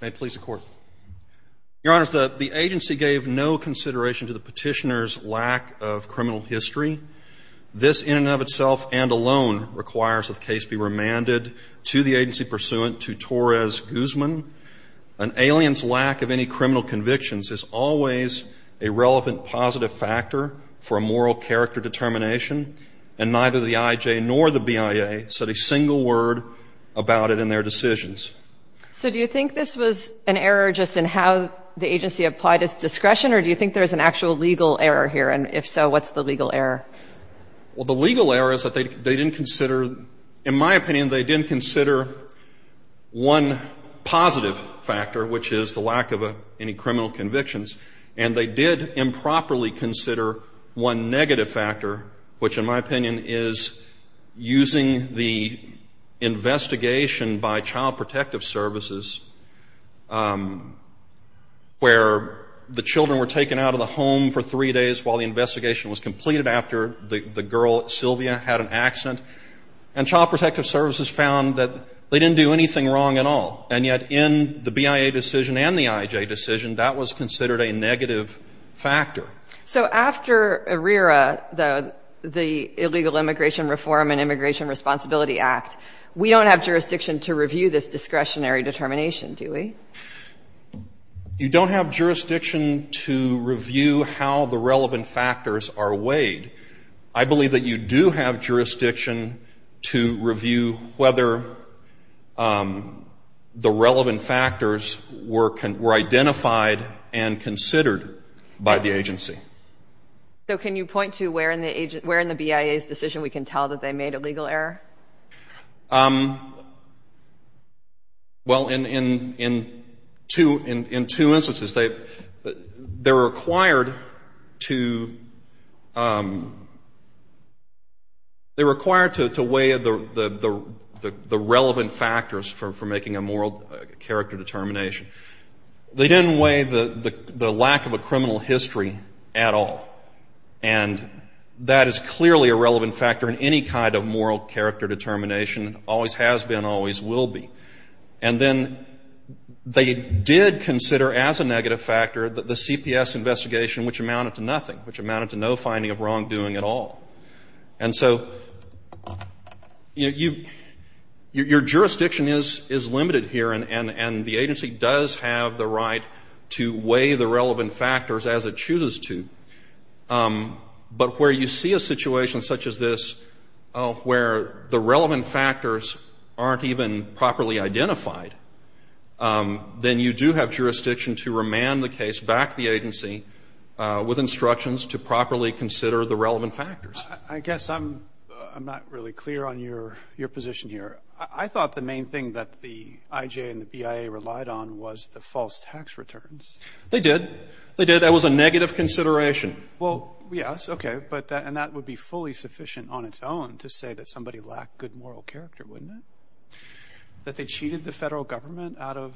May it please the Court. Your Honor, the agency gave no consideration to the petitioner's lack of criminal history. This in and of itself and alone requires that the case be remanded to the agency pursuant to Torres Guzman. An alien's lack of any criminal convictions is always a relevant positive factor for a moral character determination, and neither the IJ nor the BIA said a single word about it in their decisions. So do you think this was an error just in how the agency applied its discretion, or do you think there's an actual legal error here, and if so, what's the legal error? Well, the legal error is that they didn't consider, in my opinion, they didn't consider one positive factor, which is the lack of any criminal convictions, and they did improperly consider one negative factor, which in my opinion is using the investigation by Child Protective Services, where the children were taken out of the home for three days while the investigation was completed after the girl, Sylvia, had an accident. And Child Protective Services found that they didn't do anything wrong at all, and yet in the BIA decision and the IJ decision, that was considered a negative factor. So after ARERA, the Illegal Immigration Reform and Immigration Responsibility Act, we don't have jurisdiction to review this discretionary determination, do we? You don't have jurisdiction to review how the relevant factors are weighed. I believe that you do have jurisdiction to review whether the relevant factors were identified and considered by the agency. So can you point to where in the BIA's decision we can tell that they made a legal error? Well, in two instances. They're required to weigh the relevant factors for making a moral character determination. They didn't weigh the lack of a criminal history at all, and that is clearly a relevant factor in any kind of moral character determination, always has been, always will be. And then they did consider as a negative factor the CPS investigation, which amounted to nothing, which amounted to no finding of wrongdoing at all. And so your jurisdiction is limited here, and the agency does have the right to weigh the relevant factors as it chooses to. But where you see a situation such as this where the relevant factors aren't even properly identified, then you do have jurisdiction to remand the case back to the agency with instructions to properly consider the relevant factors. I guess I'm not really clear on your position here. I thought the main thing that the IJ and the BIA relied on was the false tax returns. They did. They did. That was a negative consideration. Well, yes, okay. And that would be fully sufficient on its own to say that somebody lacked good moral character, wouldn't it? That they cheated the federal government out of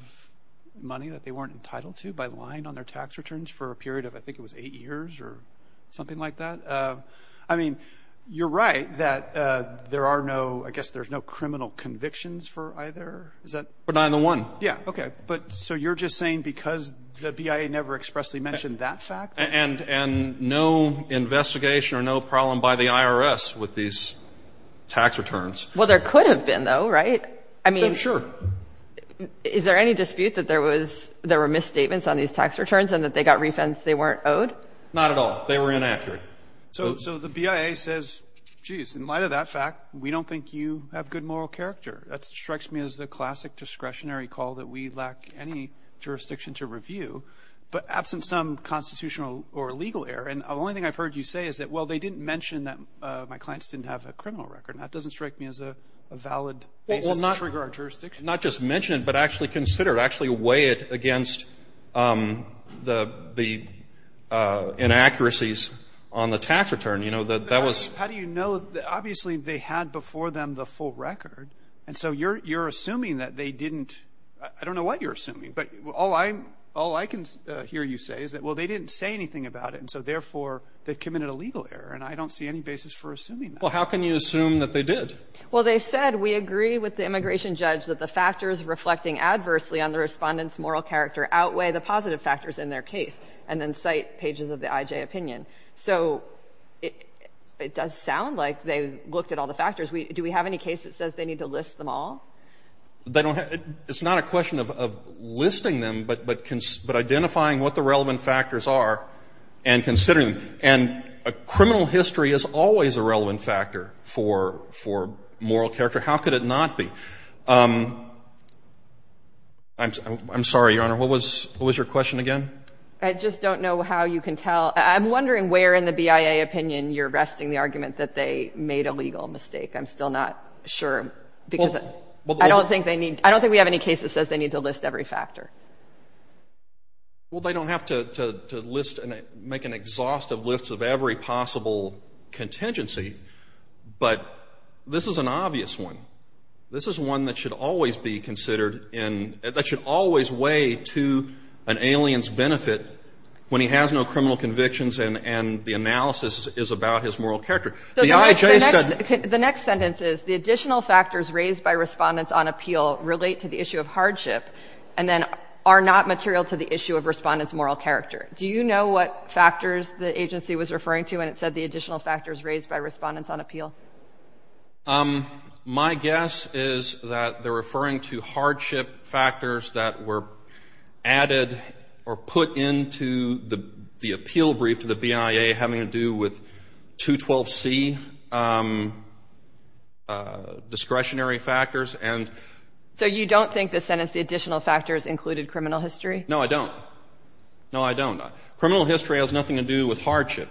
money that they weren't entitled to by lying on their tax returns for a period of, I think it was eight years or something like that? I mean, you're right that there are no, I guess there's no criminal convictions for either. But not in the one. Yeah, okay. So you're just saying because the BIA never expressly mentioned that fact? And no investigation or no problem by the IRS with these tax returns. Well, there could have been, though, right? I mean, is there any dispute that there were misstatements on these tax returns and that they got refunds they weren't owed? Not at all. They were inaccurate. So the BIA says, geez, in light of that fact, we don't think you have good moral character. That strikes me as the classic discretionary call that we lack any jurisdiction to review, but absent some constitutional or legal error. And the only thing I've heard you say is that, well, they didn't mention that my clients didn't have a criminal record. That doesn't strike me as a valid basis to disregard jurisdiction. Well, not just mention it, but actually consider it. I mean, how do you know that they had a criminal record against the inaccuracies on the tax return? You know, that was the question. How do you know that? Obviously, they had before them the full record. And so you're assuming that they didn't – I don't know what you're assuming, but all I can hear you say is that, well, they didn't say anything about it, and so therefore they've committed a legal error. And I don't see any basis for assuming that. Well, how can you assume that they did? Well, they said, we agree with the immigration judge that the factors reflecting adversely on the Respondent's moral character outweigh the positive factors in their case and then cite pages of the IJ opinion. So it does sound like they looked at all the factors. Do we have any case that says they need to list them all? They don't have – it's not a question of listing them, but identifying what the relevant factors are and considering them. And a criminal history is always a relevant factor for moral character. How could it not be? I'm sorry, Your Honor. What was your question again? I just don't know how you can tell. I'm wondering where in the BIA opinion you're resting the argument that they made a legal mistake. I'm still not sure because I don't think they need – I don't think we have any case that says they need to list every factor. Well, they don't have to list and make an exhaustive list of every possible contingency, but this is an obvious one. This is one that should always be considered in – that should always weigh to an alien's benefit when he has no criminal convictions and the analysis is about his moral character. The IJ said – The next sentence is, the additional factors raised by Respondents on appeal relate to the issue of hardship and then are not material to the issue of Respondent's moral character. Do you know what factors the agency was referring to when it said the additional factors raised by Respondents on appeal? My guess is that they're referring to hardship factors that were added or put into the appeal brief to the BIA having to do with 212C discretionary factors. So you don't think the sentence the additional factors included criminal history? No, I don't. No, I don't. Criminal history has nothing to do with hardship.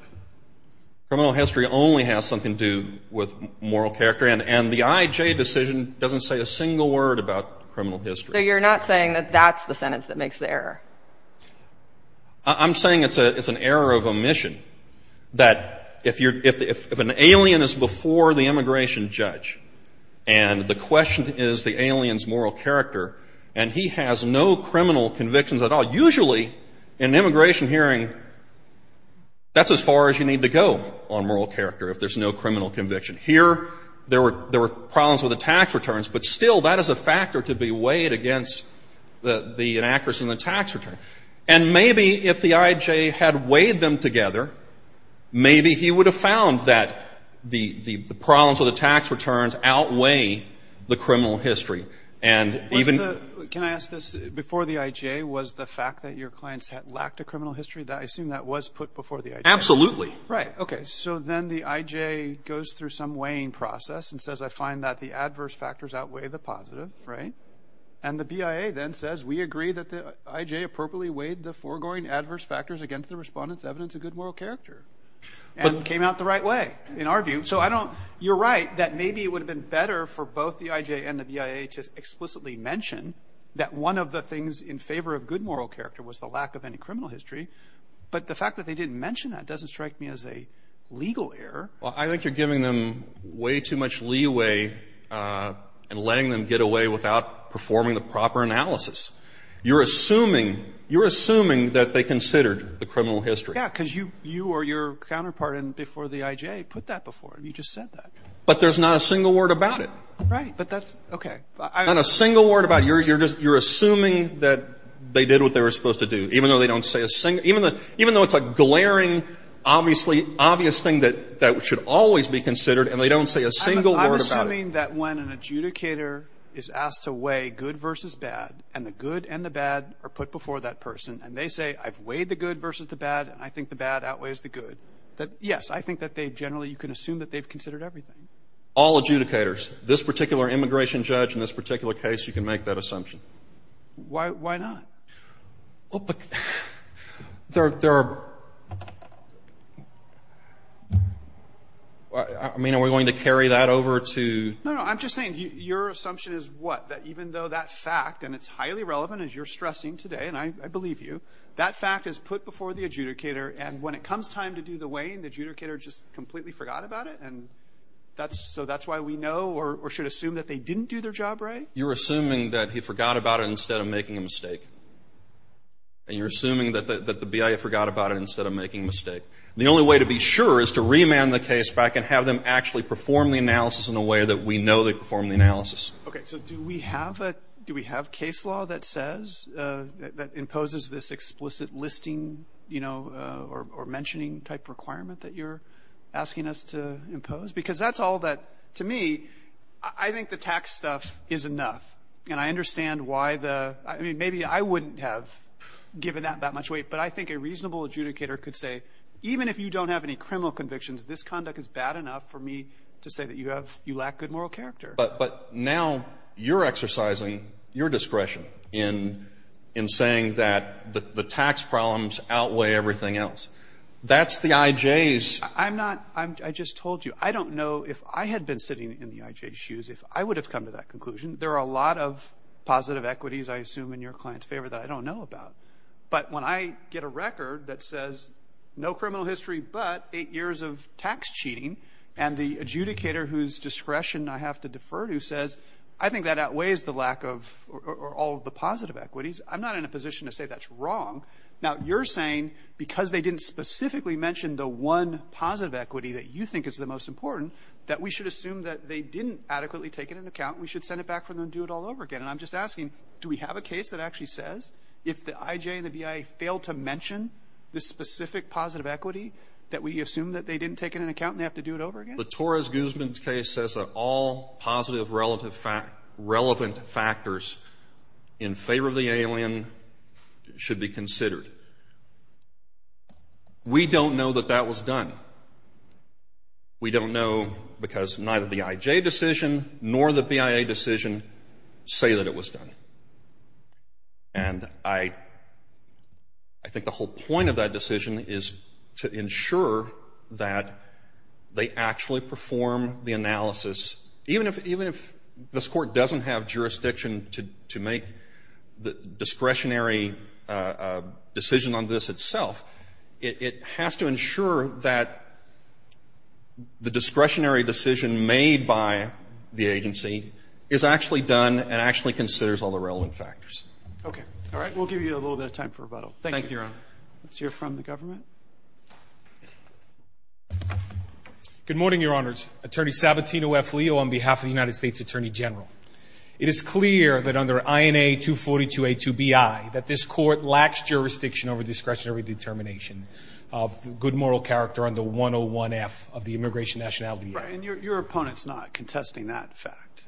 Criminal history only has something to do with moral character and the IJ decision doesn't say a single word about criminal history. So you're not saying that that's the sentence that makes the error? I'm saying it's an error of omission, that if an alien is before the immigration judge and the question is the alien's moral character and he has no criminal convictions at all, usually in an immigration hearing that's as far as you need to go on moral character if there's no criminal conviction. Here there were problems with the tax returns, but still that is a factor to be weighed against the inaccuracy in the tax return. And maybe if the IJ had weighed them together, maybe he would have found that the problems with the tax returns outweigh the criminal history. Can I ask this? Before the IJ was the fact that your clients lacked a criminal history, I assume that was put before the IJ? Absolutely. Right. Okay. So then the IJ goes through some weighing process and says I find that the adverse factors outweigh the positive, right? And the BIA then says we agree that the IJ appropriately weighed the foregoing adverse factors against the respondent's evidence of good moral character and came out the right way in our view. You're right that maybe it would have been better for both the IJ and the BIA to explicitly mention that one of the things in favor of good moral character was the lack of any criminal history, but the fact that they didn't mention that doesn't strike me as a legal error. Well, I think you're giving them way too much leeway and letting them get away without performing the proper analysis. You're assuming that they considered the criminal history. Yeah, because you or your counterpart before the IJ put that before. You just said that. But there's not a single word about it. Right, but that's okay. Not a single word about it. You're assuming that they did what they were supposed to do, even though it's a glaring obvious thing that should always be considered and they don't say a single word about it. I'm assuming that when an adjudicator is asked to weigh good versus bad and the good and the bad are put before that person and they say I've weighed the good versus the bad and I think the bad outweighs the good, that yes, I think that they generally can assume that they've considered everything. All adjudicators, this particular immigration judge in this particular case, you can make that assumption. Why not? Well, but there are – I mean, are we going to carry that over to – No, no. I'm just saying your assumption is what? That even though that fact, and it's highly relevant, as you're stressing today, and I believe you, that fact is put before the adjudicator and when it comes time to do the weighing, the adjudicator just completely forgot about it and so that's why we know or should assume that they didn't do their job right? You're assuming that he forgot about it instead of making a mistake. And you're assuming that the BIA forgot about it instead of making a mistake. The only way to be sure is to remand the case back Okay. So do we have a – do we have case law that says, that imposes this explicit listing, you know, or mentioning type requirement that you're asking us to impose? Because that's all that, to me, I think the tax stuff is enough. And I understand why the – I mean, maybe I wouldn't have given that that much weight, but I think a reasonable adjudicator could say, even if you don't have any criminal convictions, this conduct is bad enough for me to say that you have – you lack good moral character. But now you're exercising your discretion in saying that the tax problems outweigh everything else. That's the IJ's. I'm not – I just told you. I don't know if I had been sitting in the IJ's shoes if I would have come to that conclusion. There are a lot of positive equities, I assume, in your client's favor that I don't know about. But when I get a record that says no criminal history but eight years of tax cheating and the adjudicator whose discretion I have to defer to says I think that outweighs the lack of – or all of the positive equities, I'm not in a position to say that's wrong. Now, you're saying because they didn't specifically mention the one positive equity that you think is the most important that we should assume that they didn't adequately take it into account and we should send it back for them to do it all over again. And I'm just asking, do we have a case that actually says if the IJ and the BIA fail to mention the specific positive equity that we assume that they didn't take into account and they have to do it over again? The Torres-Guzman case says that all positive relevant factors in favor of the alien should be considered. We don't know that that was done. We don't know because neither the IJ decision nor the BIA decision say that it was done. And I think the whole point of that decision is to ensure that they actually perform the analysis. Even if this court doesn't have jurisdiction to make the discretionary decision on this itself, it has to ensure that the discretionary decision made by the agency is actually done and actually considers all the relevant factors. Okay. All right. We'll give you a little bit of time for rebuttal. Thank you. Thank you, Your Honor. Let's hear from the government. Good morning, Your Honors. Attorney Sabatino F. Leo on behalf of the United States Attorney General. It is clear that under INA 242A2BI that this court lacks jurisdiction over discretionary determination of good moral character under 101F of the Immigration Nationality Act. Right. And your opponent's not contesting that fact.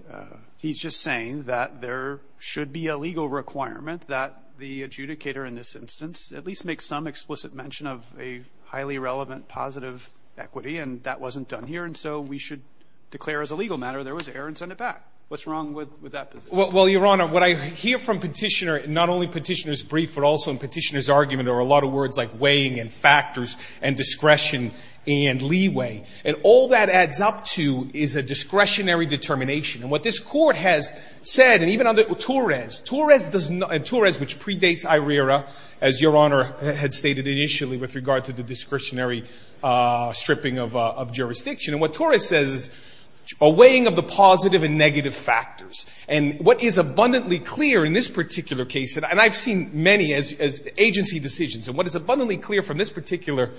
He's just saying that there should be a legal requirement that the adjudicator in this instance at least make some explicit mention of a highly relevant positive equity, and that wasn't done here. And so we should declare as a legal matter there was error and send it back. What's wrong with that position? Well, Your Honor, what I hear from Petitioner, not only Petitioner's brief, but also in Petitioner's argument are a lot of words like weighing and factors and discretion and leeway. And all that adds up to is a discretionary determination. And what this court has said, and even under Torres, Torres does not, and Torres which predates IRERA, as Your Honor had stated initially with regard to the discretionary stripping of jurisdiction. And what Torres says is a weighing of the positive and negative factors. And what is abundantly clear in this particular case, and I've seen many agency decisions, and what is abundantly clear from this particular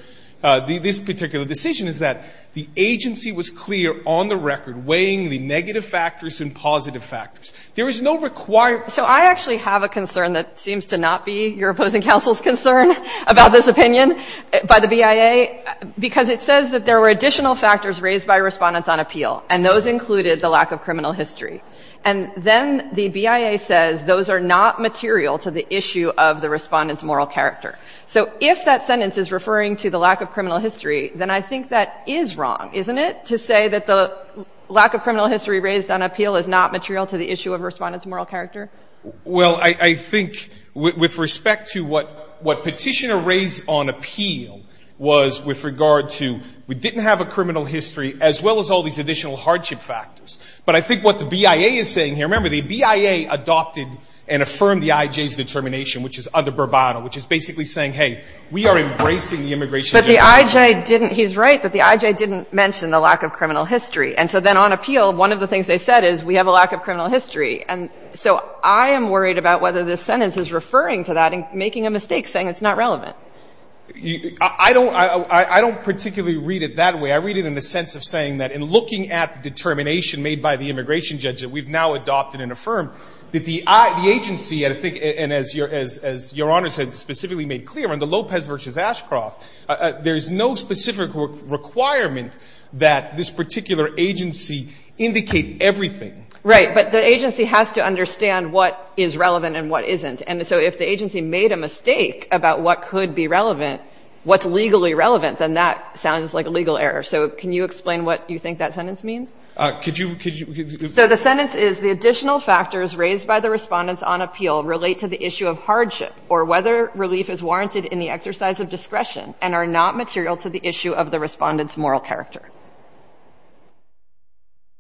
decision is that the agency was clear on the record weighing the negative factors and positive factors. There is no requirement. So I actually have a concern that seems to not be your opposing counsel's concern about this opinion by the BIA, because it says that there were additional factors raised by Respondents on Appeal, and those included the lack of criminal history. And then the BIA says those are not material to the issue of the Respondent's moral character. So if that sentence is referring to the lack of criminal history, then I think that is wrong, isn't it, to say that the lack of criminal history raised on appeal is not material to the issue of Respondent's moral character? Well, I think with respect to what Petitioner raised on appeal was with regard to we didn't have a criminal history, as well as all these additional hardship factors. But I think what the BIA is saying here, remember, the BIA adopted and affirmed the IJ's determination, which is under Bourbano, which is basically saying, hey, we are embracing the immigration justice system. But the IJ didn't. He's right that the IJ didn't mention the lack of criminal history. And so then on appeal, one of the things they said is we have a lack of criminal history. And so I am worried about whether this sentence is referring to that and making a mistake, saying it's not relevant. I don't particularly read it that way. I read it in the sense of saying that in looking at the determination made by the immigration judge that we've now adopted and affirmed, that the agency, I think, and as Your Honor, in the case of Lopez v. Ashcroft, there is no specific requirement that this particular agency indicate everything. Right. But the agency has to understand what is relevant and what isn't. And so if the agency made a mistake about what could be relevant, what's legally relevant, then that sounds like a legal error. So can you explain what you think that sentence means? Could you, could you? So the sentence is, the additional factors raised by the Respondents on appeal relate to the issue of hardship or whether relief is warranted in the exercise of discretion and are not material to the issue of the Respondent's moral character.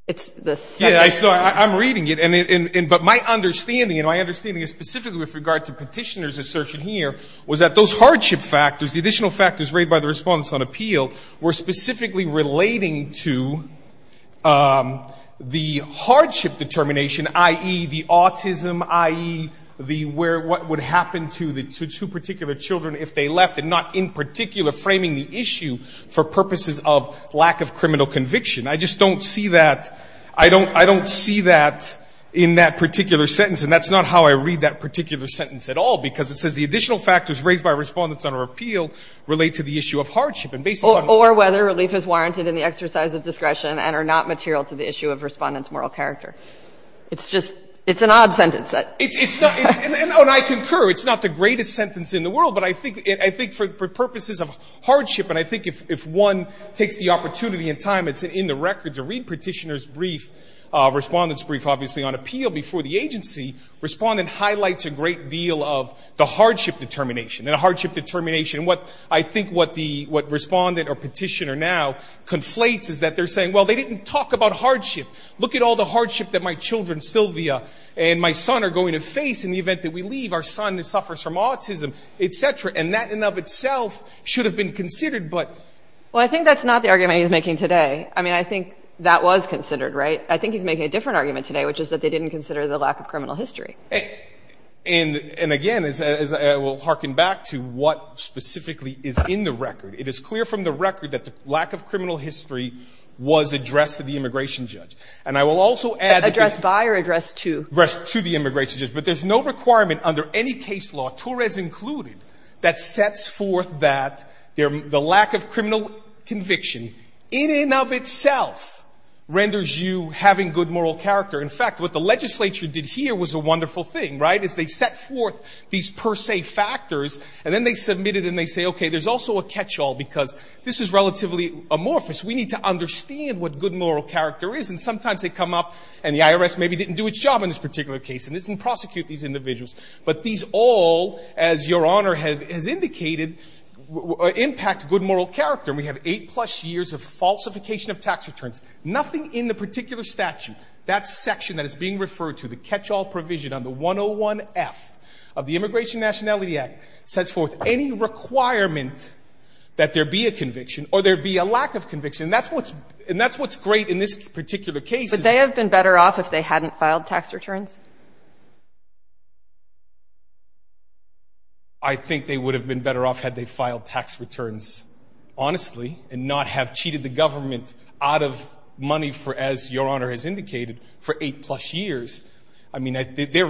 It's the sentence. Yeah, I'm reading it. But my understanding, and my understanding is specifically with regard to Petitioner's assertion here, was that those hardship factors, the additional factors raised by the Respondents on appeal, were specifically relating to the hardship determination, i.e., the autism, i.e., the where, what would happen to the two particular children if they left and not in particular framing the issue for purposes of lack of criminal conviction. I just don't see that. I don't, I don't see that in that particular sentence. And that's not how I read that particular sentence at all, because it says the additional factors raised by Respondents on appeal relate to the issue of hardship and based on. Or whether relief is warranted in the exercise of discretion and are not material to the issue of Respondent's moral character. It's just, it's an odd sentence. It's not, and I concur, it's not the greatest sentence in the world, but I think for purposes of hardship, and I think if one takes the opportunity and time, it's in the record to read Petitioner's brief, Respondent's brief, obviously, on appeal before the agency, Respondent highlights a great deal of the hardship determination and a hardship determination. What I think what the, what Respondent or Petitioner now conflates is that they're saying, well, they didn't talk about hardship. Look at all the hardship that my children, Sylvia, and my son are going to face in the event that we leave. Our son suffers from autism, et cetera. And that in and of itself should have been considered, but. Well, I think that's not the argument he's making today. I mean, I think that was considered, right? I think he's making a different argument today, which is that they didn't consider the lack of criminal history. And again, as I will hearken back to what specifically is in the record, it is clear from the record that the lack of criminal history was addressed to the immigration judge. And I will also add. Addressed by or addressed to? Addressed to the immigration judge. But there's no requirement under any case law, Torres included, that sets forth that the lack of criminal conviction in and of itself renders you having good moral character. In fact, what the legislature did here was a wonderful thing, right, is they set forth these per se factors and then they submit it and they say, okay, there's also a catch all because this is relatively amorphous. We need to understand what good moral character is. And sometimes they come up and the IRS maybe didn't do its job in this particular case and didn't prosecute these individuals. But these all, as Your Honor has indicated, impact good moral character. And we have eight plus years of falsification of tax returns. Nothing in the particular statute, that section that is being referred to, the catch all provision on the 101F of the Immigration and Nationality Act, sets forth any requirement that there be a conviction or there be a lack of conviction. And that's what's great in this particular case. But they have been better off if they hadn't filed tax returns? I think they would have been better off had they filed tax returns honestly and not have cheated the government out of money for, as Your Honor has indicated, for eight plus years. I mean,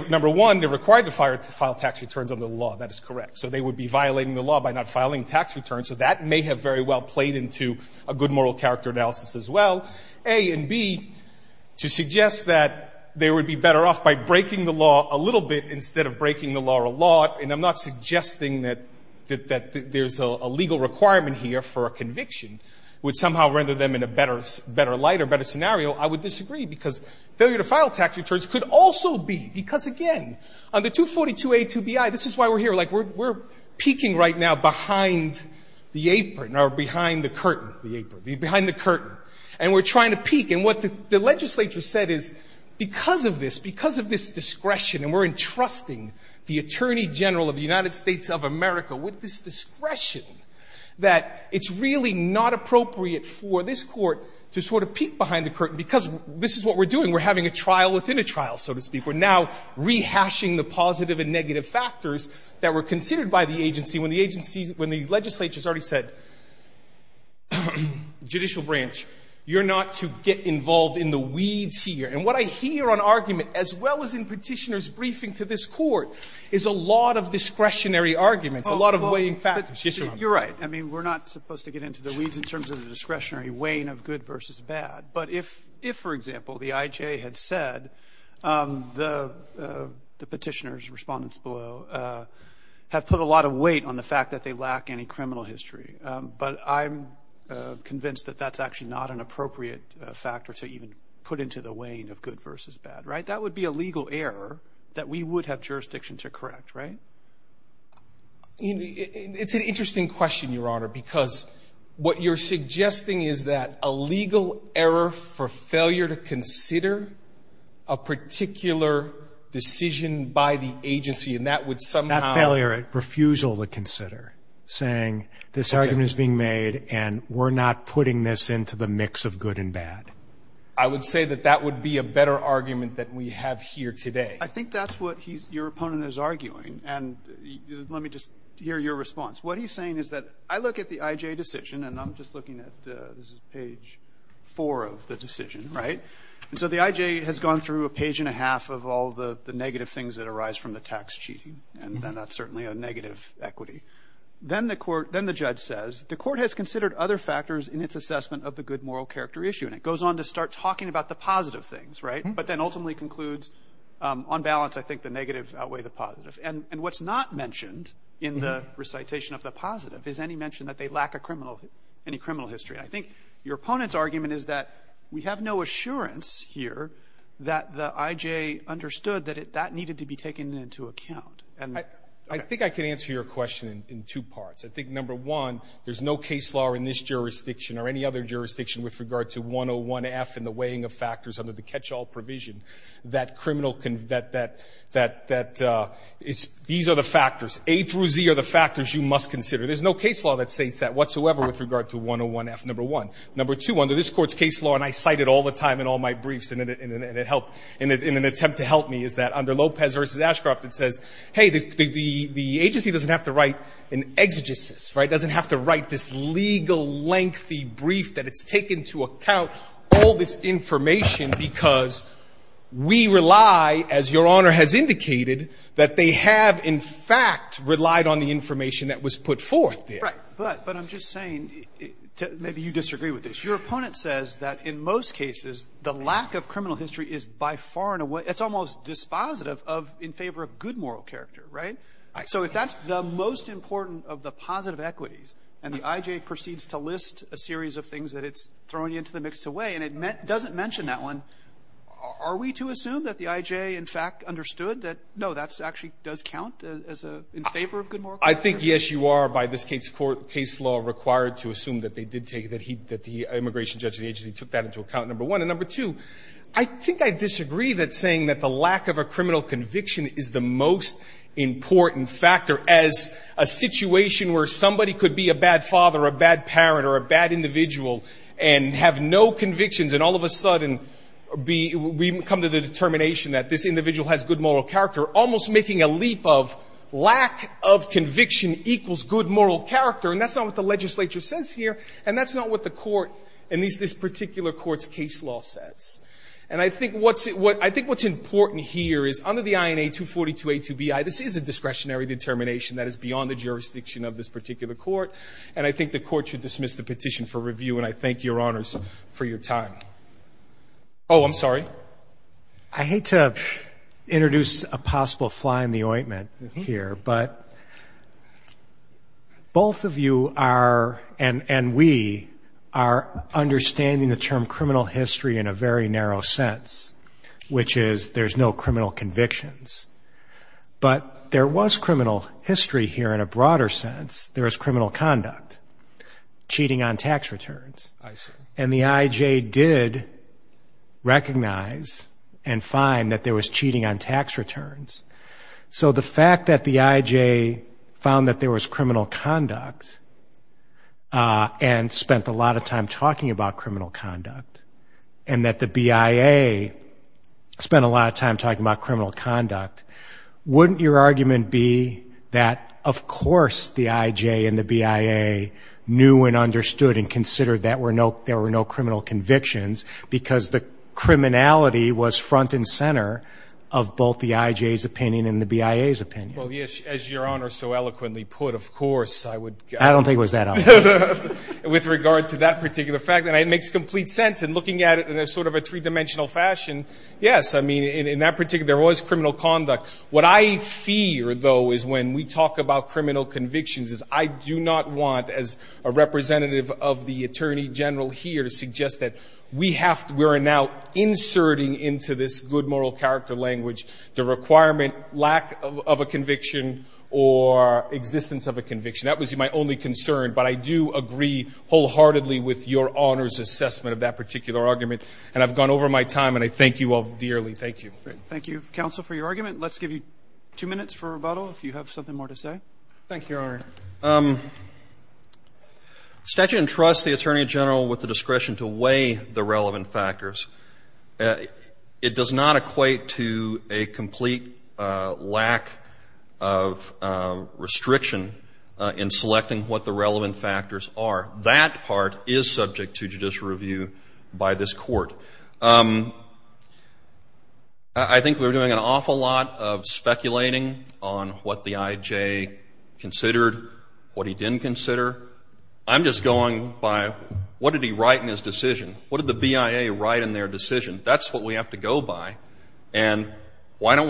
number one, they're required to file tax returns under the law. That is correct. So they would be violating the law by not filing tax returns. So that may have very well played into a good moral character analysis as well. A. And B, to suggest that they would be better off by breaking the law a little bit instead of breaking the law a lot. And I'm not suggesting that there's a legal requirement here for a conviction would somehow render them in a better light or better scenario. I would disagree because failure to file tax returns could also be, because again, under 242A2BI, this is why we're here. Like, we're peeking right now behind the apron or behind the curtain, the apron, behind the curtain. And we're trying to peek. And what the legislature said is because of this, because of this discretion, and we're entrusting the Attorney General of the United States of America with this discretion, that it's really not appropriate for this court to sort of peek behind the curtain because this is what we're doing. We're having a trial within a trial, so to speak. We're now rehashing the positive and negative factors that were considered by the agency when the agency, when the legislature has already said, judicial branch, you're not to get involved in the weeds here. And what I hear on argument, as well as in Petitioner's briefing to this Court, is a lot of discretionary arguments, a lot of weighing factors. Yes, Your Honor. You're right. I mean, we're not supposed to get into the weeds in terms of the discretionary weighing of good versus bad. But if, for example, the IJ had said the Petitioner's respondents below have put a lot of weight on the fact that they lack any criminal history, but I'm convinced that that's actually not an appropriate factor to even put into the weighing of good versus bad, right? That would be a legal error that we would have jurisdiction to correct, right? It's an interesting question, Your Honor, because what you're suggesting is that a particular decision by the agency, and that would somehow. Not failure. Refusal to consider, saying this argument is being made and we're not putting this into the mix of good and bad. I would say that that would be a better argument than we have here today. I think that's what he's, your opponent is arguing. And let me just hear your response. What he's saying is that I look at the IJ decision, and I'm just looking at, this is page four of the decision, right? And so the IJ has gone through a page and a half of all the negative things that arise from the tax cheating, and that's certainly a negative equity. Then the court, then the judge says, the court has considered other factors in its assessment of the good moral character issue. And it goes on to start talking about the positive things, right? But then ultimately concludes, on balance, I think the negative outweigh the positive. And what's not mentioned in the recitation of the positive is any mention that they lack a criminal, any criminal history. And I think your opponent's argument is that we have no assurance here that the IJ understood that it, that needed to be taken into account. And I think I can answer your question in two parts. I think, number one, there's no case law in this jurisdiction or any other jurisdiction with regard to 101F and the weighing of factors under the catch-all provision that criminal, that, that, that, these are the factors. A through Z are the factors you must consider. There's no case law that states that whatsoever with regard to 101F, number one. Number two, under this Court's case law, and I cite it all the time in all my briefs and it, and it helped, in an attempt to help me, is that under Lopez v. Ashcroft it says, hey, the, the, the agency doesn't have to write an exegesis, right? It doesn't have to write this legal lengthy brief that it's taken into account all this information because we rely, as Your Honor has indicated, that they have, in fact, relied on the information that was put forth there. Phillips. Right. But, but I'm just saying, maybe you disagree with this. Your opponent says that in most cases the lack of criminal history is by far and away, it's almost dispositive of, in favor of good moral character, right? So if that's the most important of the positive equities and the I.J. proceeds to list a series of things that it's throwing into the mixed away and it doesn't mention that one, are we to assume that the I.J. in fact understood that, no, that actually does count as a, in favor of good moral character? I think, yes, you are by this case court, case law required to assume that they did take, that he, that the immigration judge in the agency took that into account, number one. And number two, I think I disagree that saying that the lack of a criminal conviction is the most important factor as a situation where somebody could be a bad father or a bad parent or a bad individual and have no convictions and all of a sudden be, we come to the determination that this individual has good moral character almost making a leap of lack of conviction equals good moral character. And that's not what the legislature says here, and that's not what the court, at least this particular court's case law says. And I think what's, I think what's important here is under the INA 242a2bi, this is a discretionary determination that is beyond the jurisdiction of this particular court, and I think the court should dismiss the petition for review, and I thank Your Honors for your time. Oh, I'm sorry. I hate to introduce a possible fly in the ointment here, but both of you are, and we, are understanding the term criminal history in a very narrow sense, which is there's no criminal convictions. But there was criminal history here in a broader sense. There was criminal conduct, cheating on tax returns. I see. And the IJ did recognize and find that there was cheating on tax returns. So the fact that the IJ found that there was criminal conduct and spent a lot of time talking about criminal conduct, and that the BIA spent a lot of time talking about criminal conduct, wouldn't your argument be that, of course, the IJ and there were no criminal convictions, because the criminality was front and center of both the IJ's opinion and the BIA's opinion? Well, yes, as Your Honor so eloquently put, of course, I would. I don't think it was that obvious. With regard to that particular fact, and it makes complete sense in looking at it in a sort of a three-dimensional fashion, yes, I mean, in that particular, there was criminal conduct. What I fear, though, is when we talk about criminal convictions is I do not want, as a representative of the Attorney General here, to suggest that we are now inserting into this good moral character language the requirement, lack of a conviction or existence of a conviction. That was my only concern. But I do agree wholeheartedly with Your Honor's assessment of that particular argument, and I've gone over my time, and I thank you all dearly. Thank you. Thank you, counsel, for your argument. Let's give you two minutes for rebuttal, if you have something more to say. Thank you, Your Honor. Statute entrusts the Attorney General with the discretion to weigh the relevant factors. It does not equate to a complete lack of restriction in selecting what the relevant factors are. That part is subject to judicial review by this Court. I think we're doing an awful lot of speculating on what the I.J. considered, what he didn't consider. I'm just going by what did he write in his decision? What did the BIA write in their decision? That's what we have to go by. And why don't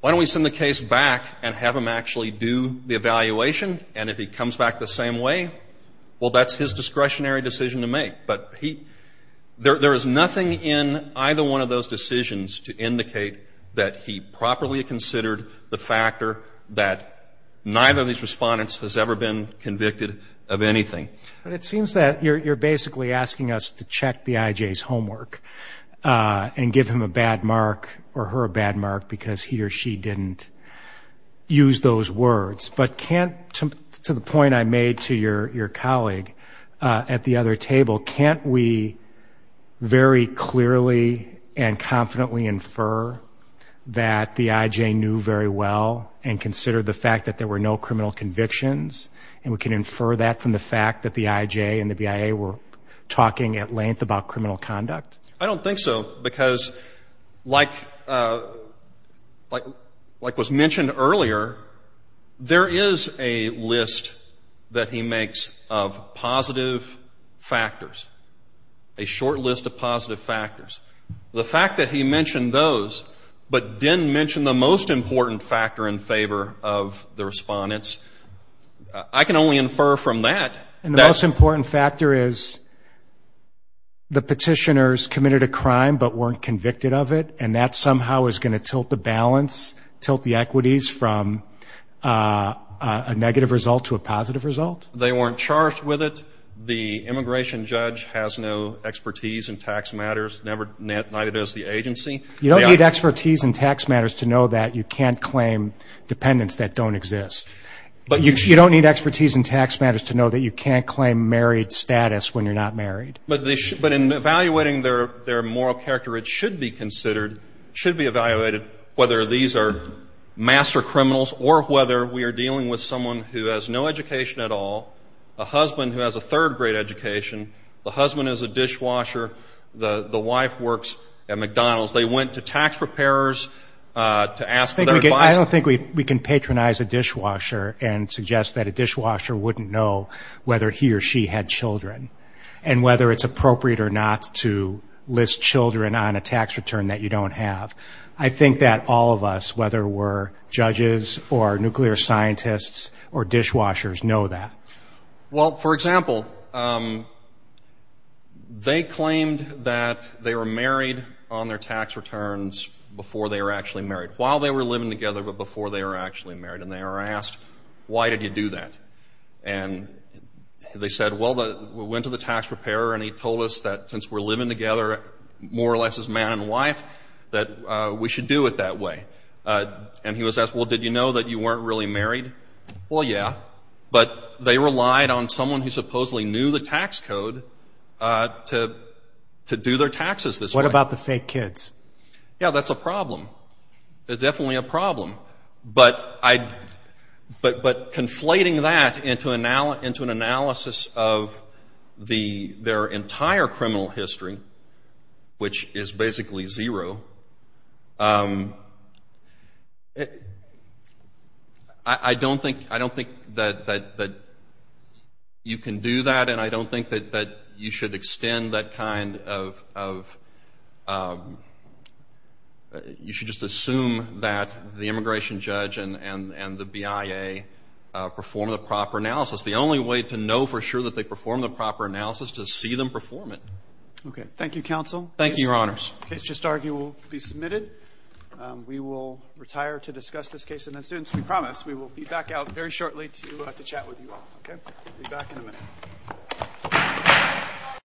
we send the case back and have him actually do the evaluation, and if he comes back the same way, well, that's his discretionary decision to make. But there is nothing in either one of those decisions to indicate that he properly considered the factor that neither of these respondents has ever been convicted of anything. But it seems that you're basically asking us to check the I.J.'s homework and give him a bad mark or her a bad mark because he or she didn't use those words. But can't, to the point I made to your colleague at the other table, can't we very clearly and confidently infer that the I.J. knew very well and considered the fact that there were no criminal convictions, and we can infer that from the fact that the I.J. and the BIA were talking at length about criminal conduct? I don't think so, because like was mentioned earlier, there is no evidence that the there is a list that he makes of positive factors, a short list of positive factors. The fact that he mentioned those but didn't mention the most important factor in favor of the respondents, I can only infer from that. And the most important factor is the petitioners committed a crime but weren't convicted of it, and that somehow is going to tilt the balance, tilt the equities from a negative result to a positive result? They weren't charged with it. The immigration judge has no expertise in tax matters, neither does the agency. You don't need expertise in tax matters to know that you can't claim dependents that don't exist. You don't need expertise in tax matters to know that you can't claim married status when you're not married. But in evaluating their moral character, it should be considered, should be evaluated whether these are master criminals or whether we are dealing with someone who has no education at all, a husband who has a third grade education, the husband is a dishwasher, the wife works at McDonald's. They went to tax preparers to ask for their advice. I don't think we can patronize a dishwasher and suggest that a dishwasher wouldn't know whether he or she had children and whether it's appropriate or not to list children on a tax return that you don't have. I think that all of us, whether we're judges or nuclear scientists or dishwashers, know that. Well, for example, they claimed that they were married on their tax returns before they were actually married, while they were living together but before they were actually married, and they were asked, why did you do that? And they said, well, we went to the tax preparer and he told us that since we're living together more or less as man and wife, that we should do it that way. And he was asked, well, did you know that you weren't really married? Well, yeah, but they relied on someone who supposedly knew the tax code to do their taxes this way. What about the fake kids? Yeah, that's a problem. It's definitely a problem. But conflating that into an analysis of their entire criminal history, which is basically zero, I don't think that you can do that and I don't think that you should extend that kind of, you should just assume that the immigration judge and the BIA perform the proper analysis. The only way to know for sure that they perform the proper analysis is to see them perform it. Okay. Thank you, counsel. Thank you, your honors. The case just argued will be submitted. We will retire to discuss this case and then students, we promise, we will be back out very shortly to chat with you all. Okay? Be back in a minute. Thank you. Thank you.